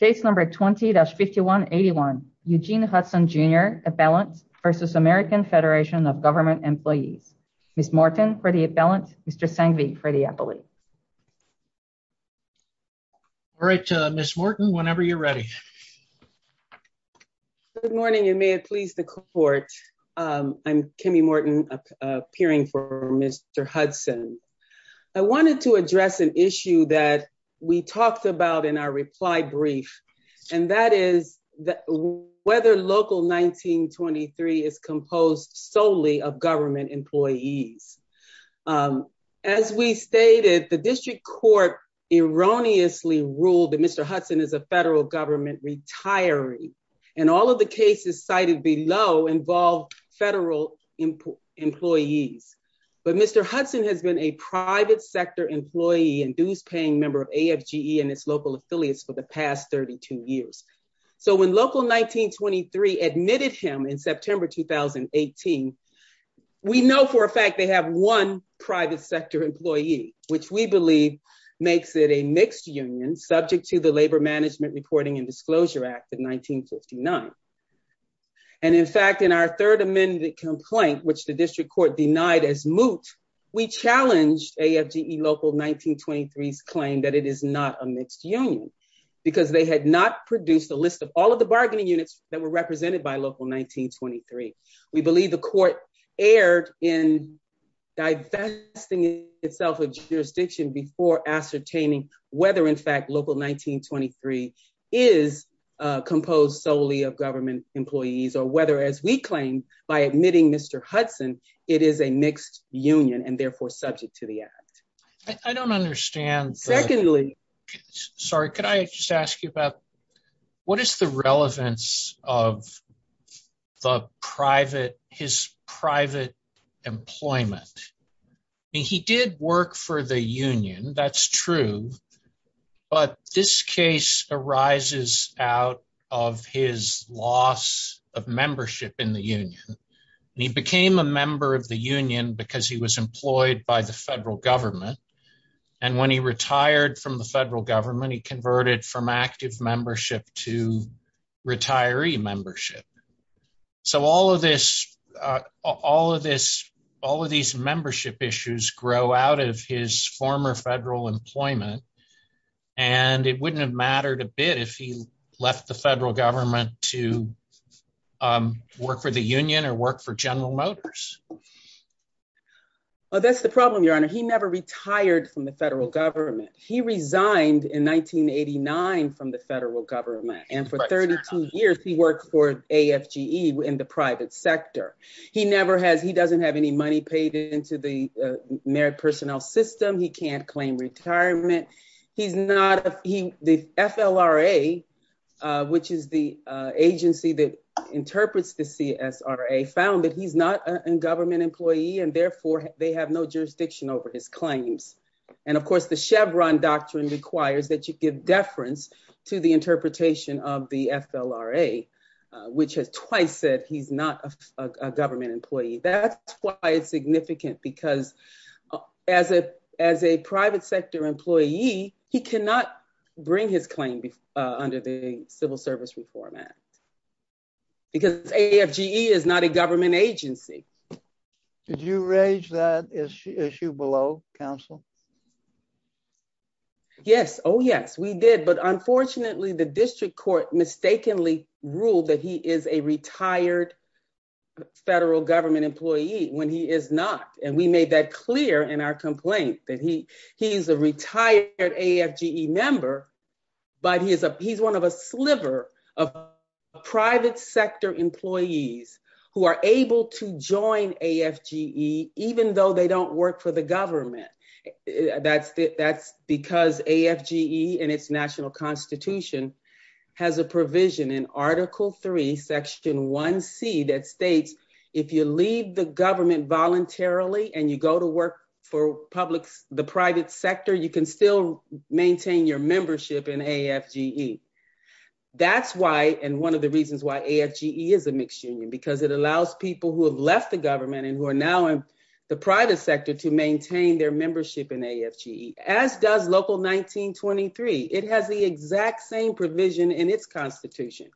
Case number 20-5181, Eugene Hudson, Jr. Appellant v. American Federation of Government Employees. Ms. Morton for the appellant, Mr. Sangvi for the appellate. All right, Ms. Morton, whenever you're ready. Good morning, and may it please the court. I'm Kimmy Morton, appearing for Mr. Hudson. I wanted to address an issue that we talked about in our reply brief, and that is whether Local 1923 is composed solely of government employees. As we stated, the district court erroneously ruled that Mr. Hudson is a federal government retiree, and all of the cases cited below involve federal employees. But Mr. Hudson has been a private sector employee and dues-paying member of AFGE and its local affiliates for the past 32 years. So when Local 1923 admitted him in September 2018, we know for a fact they have one private sector employee, which we believe makes it a mixed union, subject to the Labor Management Reporting and Disclosure Act of 1959. And in fact, in our third amended complaint, which the district court denied as moot, we challenged AFGE Local 1923's claim that it is not a mixed union, because they had not produced a list of all of the bargaining units that were represented by Local 1923. We believe the court erred in divesting itself of jurisdiction before ascertaining whether, in fact, Local 1923 is composed solely of government employees, or whether, as we claimed by admitting Mr. Hudson, it is a mixed union, and therefore subject to the act. I don't understand. Secondly. Sorry, could I just ask you about what is the relevance of his private employment? He did work for the union, that's true. But this case arises out of his loss of membership in the union. He became a member of the union because he was employed by the federal government. And when he retired from the federal government, he converted from active membership to retiree membership. So all of these membership issues grow out of his former federal employment. And it wouldn't have mattered a bit if he left the federal government to work for the union or work for General Motors. Well, that's the problem, Your Honor. He never retired from the federal government. He resigned in 1989 from the federal government. And for 32 years, he worked for AFGE in the private sector. He never has, he doesn't have any money paid into the merit personnel system. He can't claim retirement. He's not, the FLRA, which is the agency that interprets the CSRA, found that he's not a government employee, and therefore, they have no jurisdiction over his claims. And of course, the Chevron doctrine requires that you give deference to the interpretation of the FLRA, which has twice said he's not a government employee. That's why it's significant, because as a private sector employee, he cannot bring his claim under the Civil Service Reform Act, because AFGE is not a government agency. Did you raise that issue below, counsel? Yes, oh, yes, we did. But unfortunately, the district court mistakenly ruled that he is a retired federal government employee when he is not. And we made that clear in our complaint, that he is a retired AFGE member, but he's one of a sliver of private sector employees who are able to join AFGE, even though they don't work for the government. That's because AFGE, in its national constitution, has a provision in Article III, Section 1c, that states if you leave the government voluntarily and you go to work for the private sector, you can still maintain your membership in AFGE. That's why, and one of the reasons why, AFGE is a mixed union, because it allows people who have left the government and who are now in the private sector to maintain their membership in AFGE, as does Local 1923. It has the exact same provision in its constitution.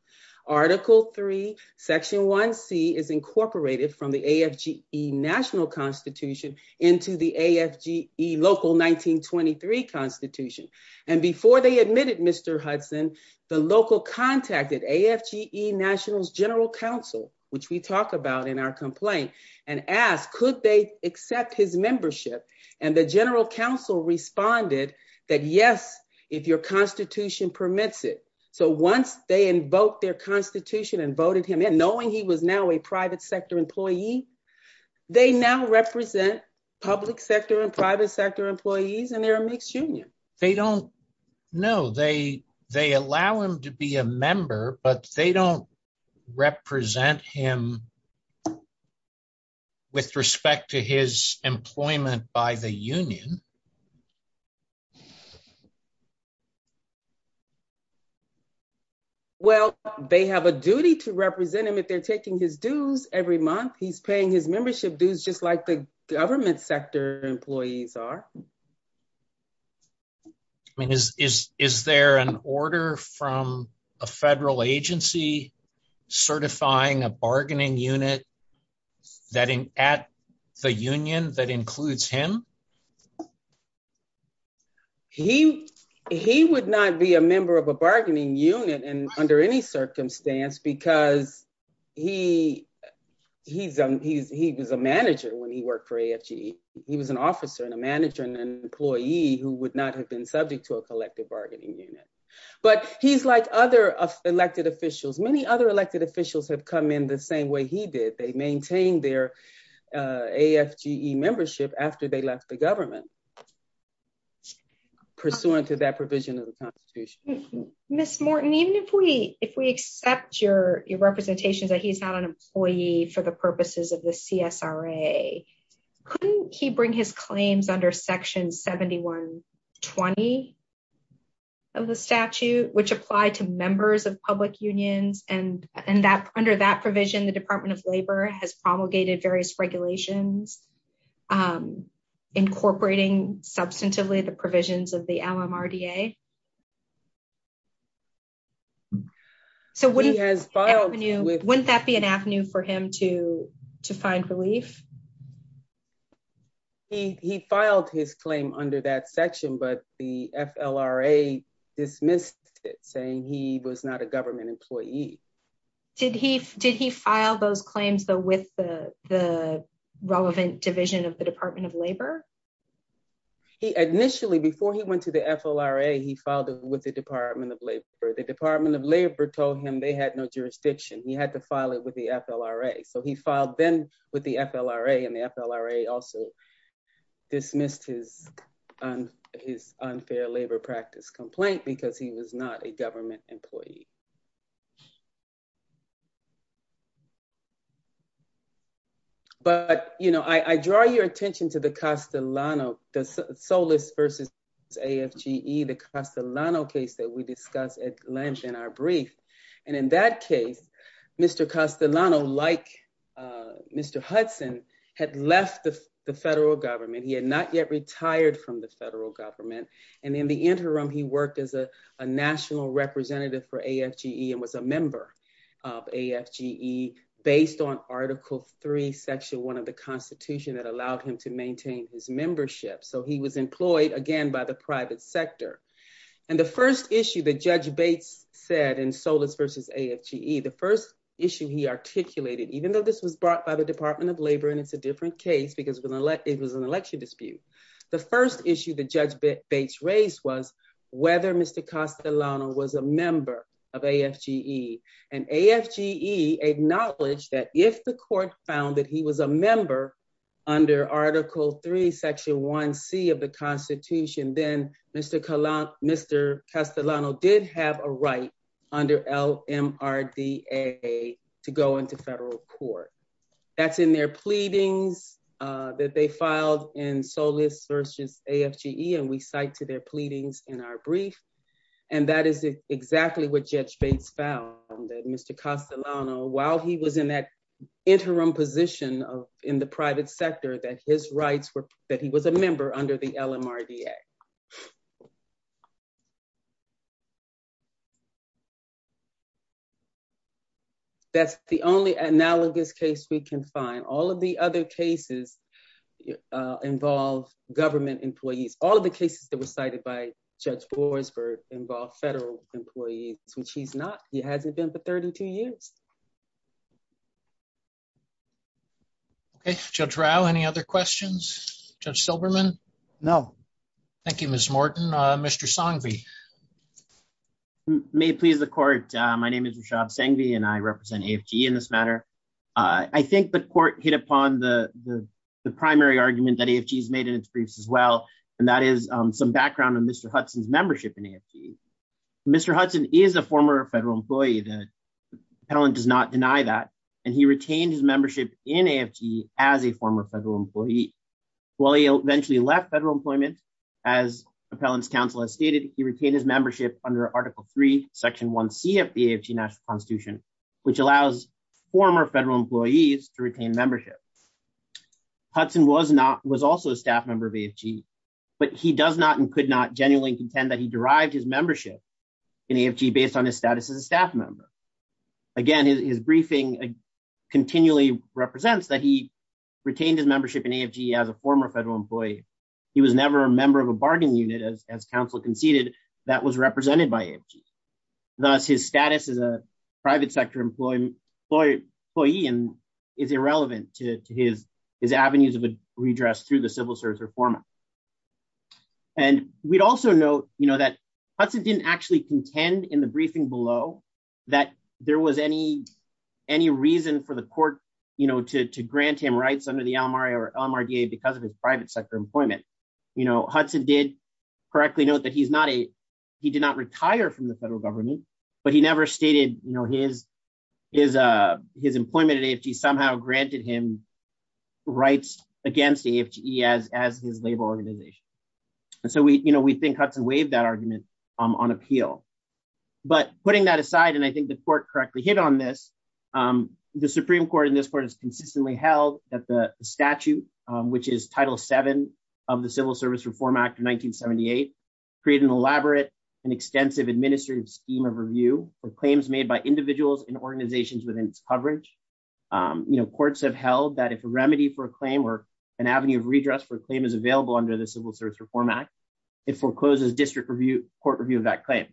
Article III, Section 1c is incorporated from the AFGE national constitution into the AFGE Local 1923 constitution. And before they admitted Mr. Hudson, the local contacted AFGE National's general counsel, which we talk about in our complaint, and asked, could they accept his membership? And the general counsel responded that, yes, if your constitution permits it. So once they invoked their constitution and voted him in, knowing he was now a private sector employee, they now represent public sector and private sector employees, and they're a mixed union. They don't, no, they allow him to be a member, but they don't represent him with respect to his employment by the union. Well, they have a duty to represent him and if they're taking his dues every month, he's paying his membership dues just like the government sector employees are. I mean, is there an order from a federal agency certifying a bargaining unit at the union that includes him? He would not be a member of a bargaining unit under any circumstance, because he was a manager when he worked for AFGE. He was an officer and a manager and an employee who would not have been subject to a collective bargaining unit. But he's like other elected officials. Many other elected officials have come in the same way he did. They maintained their AFGE membership after they left the government, pursuant to that provision of the constitution. Ms. Morton, even if we accept your representations that he's not an employee for the purposes of the CSRA, couldn't he bring his claims under section 7120 of the statute, which apply to members of public unions? And under that provision, the Department of Labor has promulgated various regulations incorporating substantively the provisions of the LMRDA. So wouldn't that be an avenue for him to find relief? He filed his claim under that section, but the FLRA dismissed it, saying he was not a government employee. Did he file those claims though with the relevant division of the Department of Labor? He initially, before he went to the FLRA, he filed it with the Department of Labor. The Department of Labor told him they had no jurisdiction. He had to file it with the FLRA. So he filed then with the FLRA and the FLRA also dismissed his unfair labor practice complaint because he was not a government employee. But I draw your attention to the Castellano, the Solis versus AFGE, the Castellano case that we discussed at length in our brief. And in that case, Mr. Castellano, like Mr. Hudson had left the federal government. He had not yet retired from the federal government. And in the interim, he worked as a national representative for AFGE and was a member of AFGE based on article three, section one of the constitution that allowed him to maintain his membership. So he was employed again by the private sector. And the first issue that Judge Bates said in Solis versus AFGE, the first issue he articulated, even though this was brought by the Department of Labor and it's a different case because it was an election dispute. The first issue that Judge Bates raised was whether Mr. Castellano was a member of AFGE. And AFGE acknowledged that if the court found that he was a member under article three, section one C of the constitution, then Mr. Castellano did have a right under LMRDA to go into federal court. That's in their pleadings that they filed in Solis versus AFGE. And we cite to their pleadings in our brief. And that is exactly what Judge Bates found that Mr. Castellano, while he was in that interim position in the private sector, that his rights were, that he was a member under the LMRDA. That's the only analogous case we can find. All of the other cases involve government employees. All of the cases that were cited by Judge Boisvert involve federal employees, which he's not. He hasn't been for 32 years. Okay, Judge Rao, any other questions? Judge Silberman? No. Thank you, Ms. Morton. Mr. Sanghvi. May it please the court. My name is Rishabh Sanghvi and I represent AFGE in this matter. I think the court hit upon the primary argument that AFGE has made in its briefs as well. And that is some background on Mr. Hudson's membership in AFGE. Mr. Hudson is a former federal employee. The appellant does not deny that. And he retained his membership in AFGE as a former federal employee. While he eventually left federal employment, as appellant's counsel has stated, he retained his membership under Article III, Section 1C of the AFGE National Constitution, which allows former federal employees to retain membership. Hudson was also a staff member of AFGE, but he does not and could not genuinely contend that he derived his membership in AFGE based on his status as a staff member. Again, his briefing continually represents that he retained his membership in AFGE as a former federal employee. He was never a member of a bargaining unit as counsel conceded that was represented by AFGE. Thus, his status as a private sector employee is irrelevant to his avenues of redress through the civil service reform. And we'd also note that Hudson didn't actually contend in the briefing below that there was any reason for the court to grant him rights under the LMRDA because of his private sector employment. Hudson did correctly note that he's not a, he did not retire from the federal government, but he never stated his employment at AFGE somehow granted him rights against AFGE as his labor organization. And so we think Hudson waived that argument on appeal. But putting that aside, and I think the court correctly hit on this, the Supreme Court in this court has consistently held that the statute, which is Title VII of the Civil Service Reform Act of 1978, create an elaborate and extensive administrative scheme of review for claims made by individuals and organizations within its coverage. Courts have held that if a remedy for a claim or an avenue of redress for a claim is available under the Civil Service Reform Act, it forecloses district court review of that claim.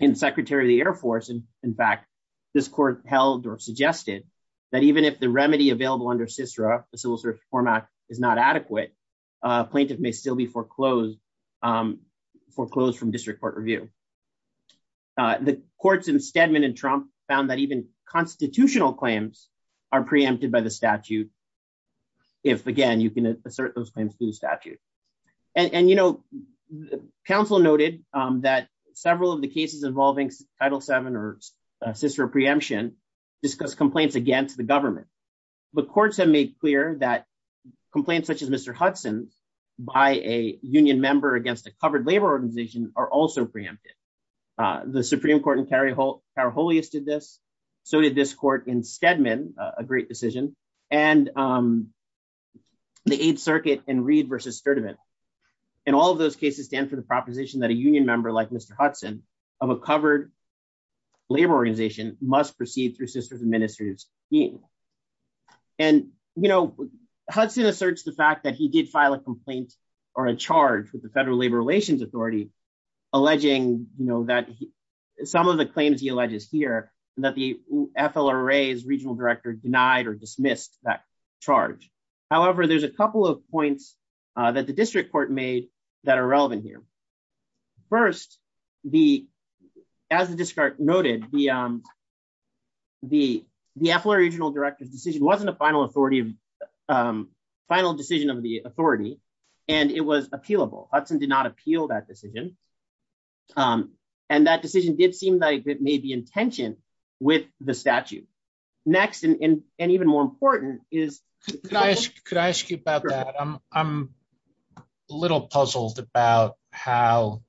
In Secretary of the Air Force, in fact, this court held or suggested that even if the remedy available under CISRA, the Civil Service Reform Act is not adequate, a plaintiff may still be foreclosed from district court review. The courts in Stedman and Trump found that even constitutional claims are preempted by the statute if, again, you can assert those claims through the statute. And, you know, counsel noted that several of the cases involving Title VII or CISRA preemption discuss complaints against the government. But courts have made clear that complaints such as Mr. Hudson's by a union member against a covered labor organization are also preempted. The Supreme Court in Karaholius did this. So did this court in Stedman, a great decision. And the Eighth Circuit in Reed versus Sturdivant. And all of those cases stand for the proposition that a union member like Mr. Hudson of a covered labor organization must proceed through sister's administrative scheme. And, you know, Hudson asserts the fact that he did file a complaint or a charge with the Federal Labor Relations Authority alleging that some of the claims he alleges here that the FLRA's regional director denied or dismissed that charge. However, there's a couple of points that the district court made that are relevant here. First, as the district court noted, the FLRA regional director's decision wasn't a final decision of the authority and it was appealable. Hudson did not appeal that decision. And that decision did seem like it made the intention with the statute. Next, and even more important is- Could I ask you about that? I'm a little puzzled about how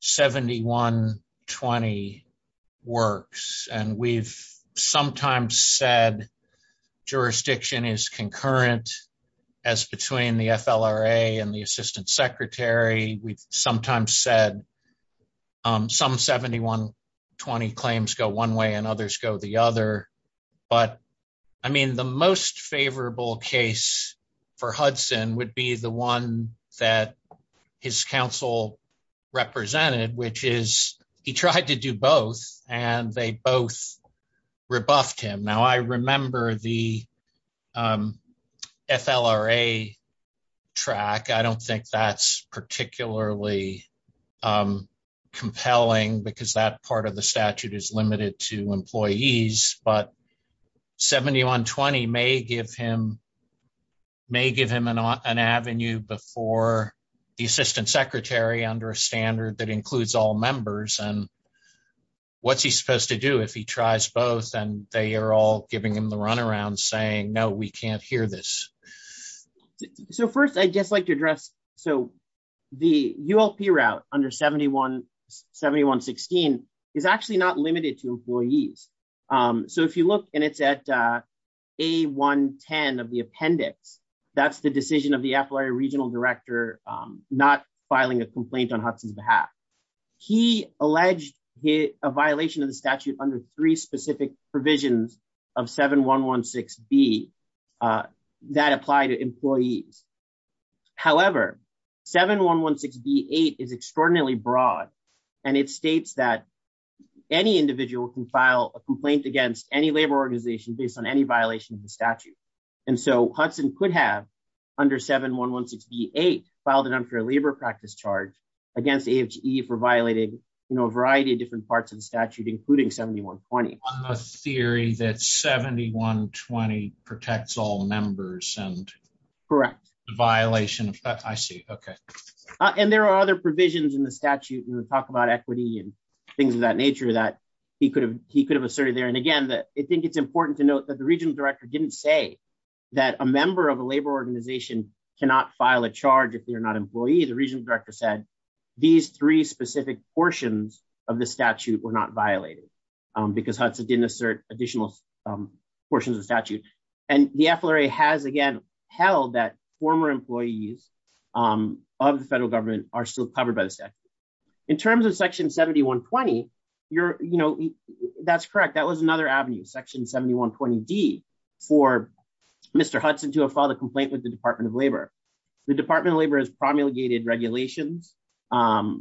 7120 works. And we've sometimes said jurisdiction is concurrent as between the FLRA and the assistant secretary. We've sometimes said some 7120 claims go one way and others go the other. But, I mean, the most favorable case for Hudson would be the one that his counsel represented, which is he tried to do both and they both rebuffed him. Now, I remember the FLRA track. I don't think that's particularly compelling because that part of the statute is limited to employees, but 7120 may give him an avenue before the assistant secretary under a standard that includes all members. And what's he supposed to do if he tries both and they are all giving him the runaround saying, no, we can't hear this. So first I'd just like to address, so the ULP route under 7116 is actually not limited to employees. So if you look and it's at A110 of the appendix, that's the decision of the FLRA regional director not filing a complaint on Hudson's behalf. He alleged a violation of the statute under three specific provisions of 7116B that apply to employees. However, 7116B8 is extraordinarily broad and it states that any individual can file a complaint against any labor organization based on any violation of the statute. And so Hudson could have under 7116B8 filed an unfair labor practice charge against AHE for violating a variety of different parts of the statute, including 7120. On the theory that 7120 protects all members and the violation of that, I see, okay. And there are other provisions in the statute and we'll talk about equity and things of that nature that he could have asserted there. And again, I think it's important to note that the regional director didn't say that a member of a labor organization cannot file a charge if they're not employee. The regional director said these three specific portions of the statute were not violated because Hudson didn't assert additional portions of statute. And the FLRA has again held that former employees of the federal government are still covered by the statute. In terms of section 7120, that's correct. That was another avenue, section 7120D for Mr. Hudson to have filed a complaint with the Department of Labor. The Department of Labor has promulgated regulations for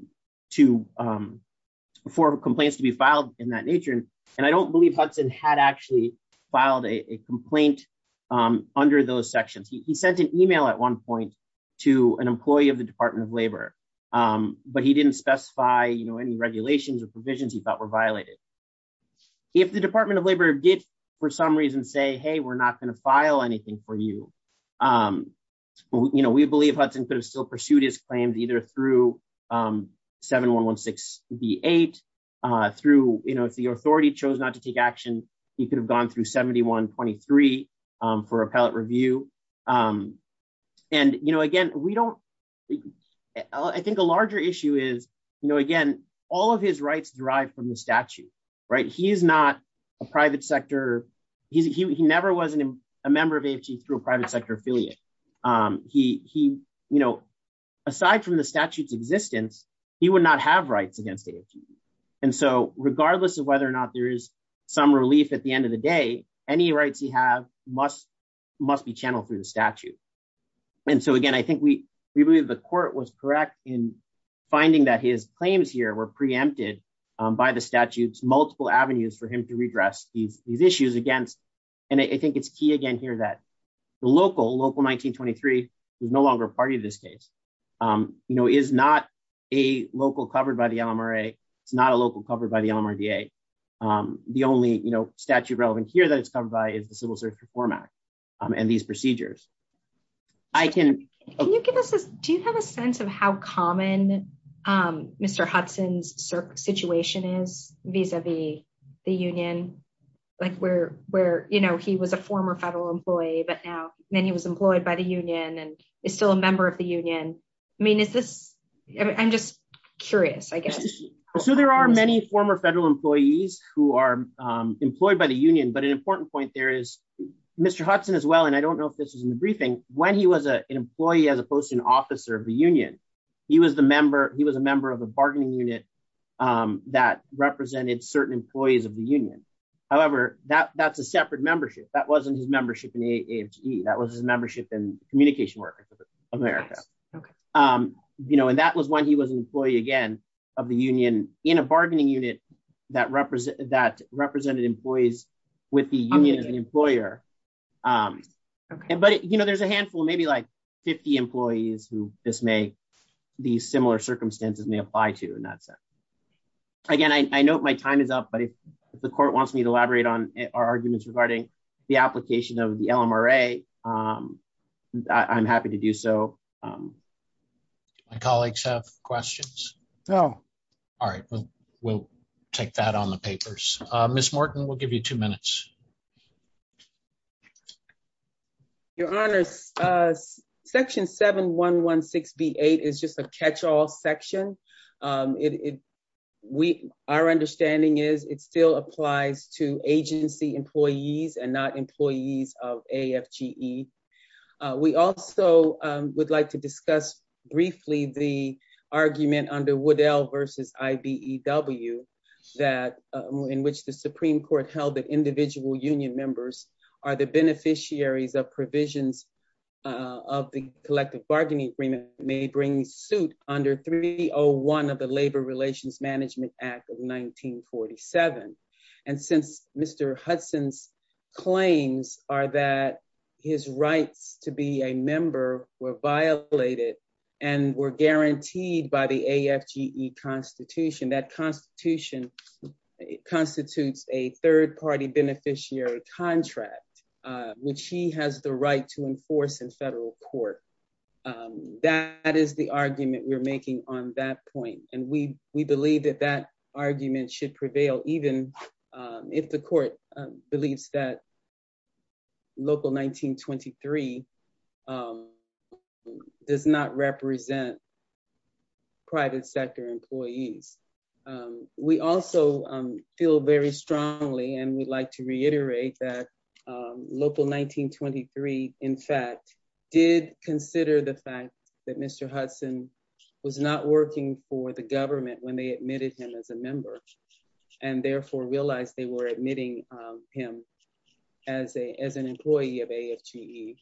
complaints to be filed in that nature. And I don't believe Hudson had actually filed a complaint under those sections. He sent an email at one point to an employee of the Department of Labor, but he didn't specify any regulations or provisions he thought were violated. If the Department of Labor did for some reason say, hey, we're not gonna file anything for you, we believe Hudson could have still pursued his claims either through 7116B8 through, if the authority chose not to take action, he could have gone through 7123 for appellate review. And again, we don't, I think a larger issue is, again, all of his rights derive from the statute, right? He is not a private sector. He never was a member of AFG through a private sector affiliate. Aside from the statute's existence, he would not have rights against AFG. And so regardless of whether or not there is some relief at the end of the day, any rights he have must be channeled through the statute. And so again, I think we believe the court was correct in finding that his claims here were preempted by the statute's multiple avenues for him to redress these issues against. And I think it's key again here that the local, local 1923 is no longer a party to this case, is not a local covered by the LMRA. It's not a local covered by the LMRDA. The only statute relevant here that it's covered by is the Civil Service Reform Act and these procedures. I can- Can you give us this, do you have a sense of how common Mr. Hudson's situation is vis-a-vis the union? Like where, you know, he was a former federal employee, but now then he was employed by the union and is still a member of the union. I mean, is this, I'm just curious, I guess. So there are many former federal employees who are employed by the union, but an important point there is, Mr. Hudson as well, and I don't know if this was in the briefing, when he was an employee, as opposed to an officer of the union, he was the member, he was a member of a bargaining unit that represented certain employees of the union. However, that's a separate membership. That wasn't his membership in AMGE. That was his membership in Communication Workers of America. You know, and that was when he was an employee again of the union in a bargaining unit that represented employees with the union as an employer. But, you know, there's a handful, maybe like 50 employees who this may, these similar circumstances may apply to in that sense. Again, I know my time is up, but if the court wants me to elaborate on our arguments regarding the application of the LMRA, I'm happy to do so. My colleagues have questions. No. All right, well, we'll take that on the papers. Ms. Morton, we'll give you two minutes. Your honors, section 7116B8 is just a catch-all section. Our understanding is it still applies to agency employees and not employees of AMGE. We also would like to discuss briefly the argument under Woodell versus IBEW in which the Supreme Court held that individual union members are the beneficiaries of provisions of the collective bargaining agreement may bring suit under 301 of the Labor Relations Management Act of 1947. And since Mr. Hudson's claims are that his rights to be a member were violated and were guaranteed by the AFGE constitution, that constitution constitutes a third-party beneficiary contract, which he has the right to enforce in federal court. That is the argument we're making on that point. And we believe that that argument should prevail even if the court believes that Local 1923 does not represent private sector employees. We also feel very strongly, and we'd like to reiterate that Local 1923, in fact, did consider the fact that Mr. Hudson was not working for the government when they admitted him as a member. And therefore realized they were admitting him as an employee of AFGE.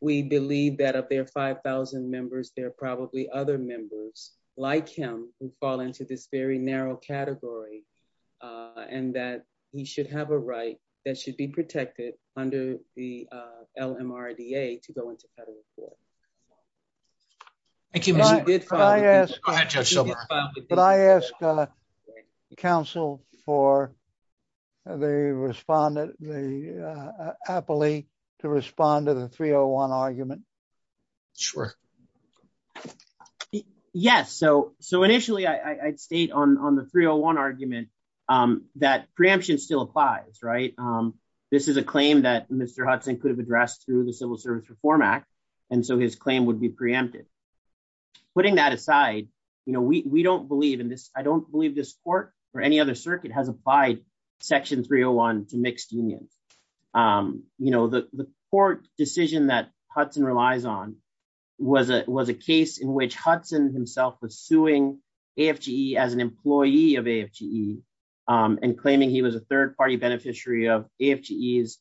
We believe that of their 5,000 members, there are probably other members like him who fall into this very narrow category and that he should have a right that should be protected under the LMRDA to go into federal court. Thank you, Mr. Bidfine. Go ahead, Judge Silver. Would I ask counsel for the appellee to respond to the 301 argument? Sure. Yes, so initially I'd state on the 301 argument that preemption still applies, right? This is a claim that Mr. Hudson could have addressed through the Civil Service Reform Act. And so his claim would be preempted. Putting that aside, we don't believe in this, I don't believe this court or any other circuit has applied Section 301 to mixed unions. The court decision that Hudson relies on was a case in which Hudson himself was suing AFGE as an employee of AFGE and claiming he was a third-party beneficiary of AFGE's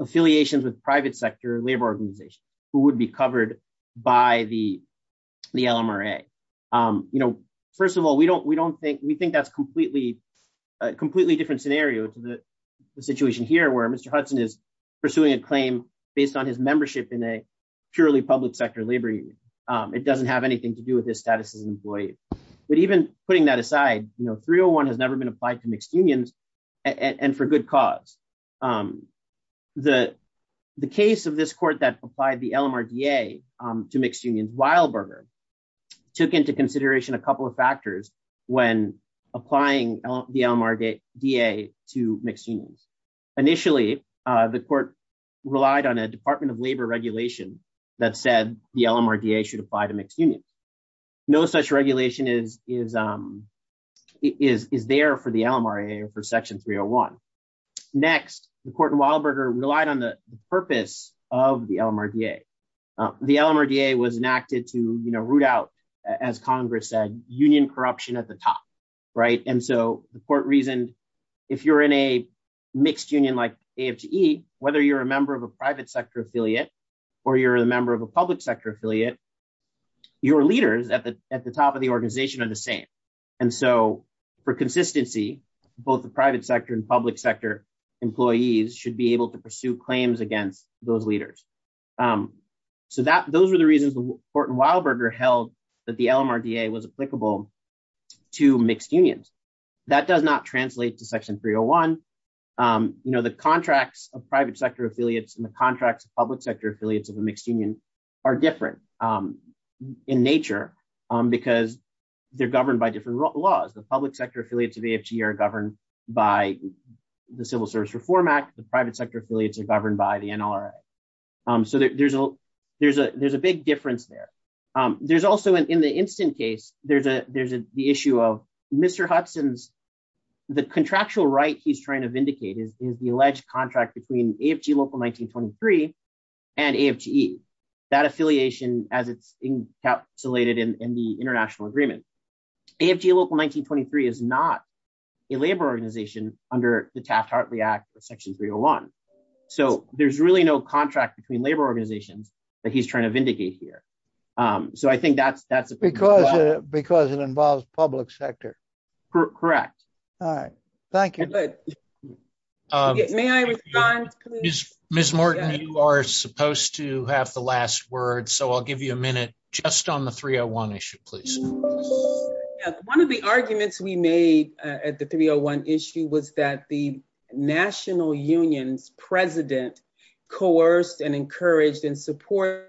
affiliations with private sector labor organizations who would be covered by the LMRA. First of all, we think that's a completely different scenario to the situation here where Mr. Hudson is pursuing a claim based on his membership in a purely public sector labor. It doesn't have anything to do with his status as an employee but even putting that aside, 301 has never been applied to mixed unions and for good cause. The case of this court that applied the LMRDA to mixed unions, Weilberger, took into consideration a couple of factors when applying the LMRDA to mixed unions. Initially, the court relied on a Department of Labor regulation that said the LMRDA should apply to mixed unions. No such regulation is there for the LMRA or for Section 301. Next, the court in Weilberger relied on the purpose of the LMRDA. The LMRDA was enacted to root out, as Congress said, union corruption at the top, right? And so the court reasoned, if you're in a mixed union like AFGE, whether you're a member of a private sector affiliate or you're a member of a public sector affiliate, your leaders at the top of the organization are the same. And so for consistency, both the private sector and public sector employees should be able to pursue claims against those leaders. So those were the reasons the court in Weilberger held that the LMRDA was applicable to mixed unions. That does not translate to Section 301. The contracts of private sector affiliates and the contracts of public sector affiliates of a mixed union are different in nature because they're governed by different laws. The public sector affiliates of AFGE are governed by the Civil Service Reform Act. The private sector affiliates are governed by the NLRA. So there's a big difference there. There's also, in the instant case, there's the issue of Mr. Hudson's, the contractual right he's trying to vindicate is the alleged contract between AFG Local 1923 and AFGE, that affiliation as it's encapsulated in the international agreement. AFGE Local 1923 is not a labor organization under the Taft-Hartley Act of Section 301. So there's really no contract between labor organizations that he's trying to vindicate here. So I think that's- Because it involves public sector. Correct. All right, thank you. May I respond, please? Ms. Morton, you are supposed to have the last word. So I'll give you a minute just on the 301 issue, please. One of the arguments we made at the 301 issue was that the National Union's president coerced and encouraged and supported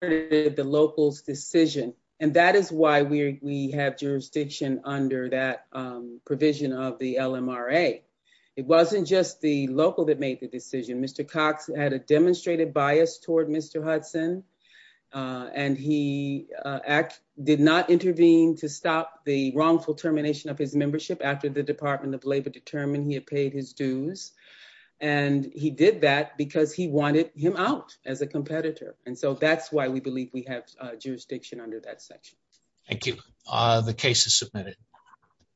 the local's decision. And that is why we have jurisdiction under that provision of the LMRA. It wasn't just the local that made the decision. Mr. Cox had a demonstrated bias toward Mr. Hudson and he did not intervene to stop the wrongful termination of his membership after the Department of Labor determined he had paid his dues. And he did that because he wanted him out as a competitor. And so that's why we believe we have jurisdiction Thank you. The case is submitted.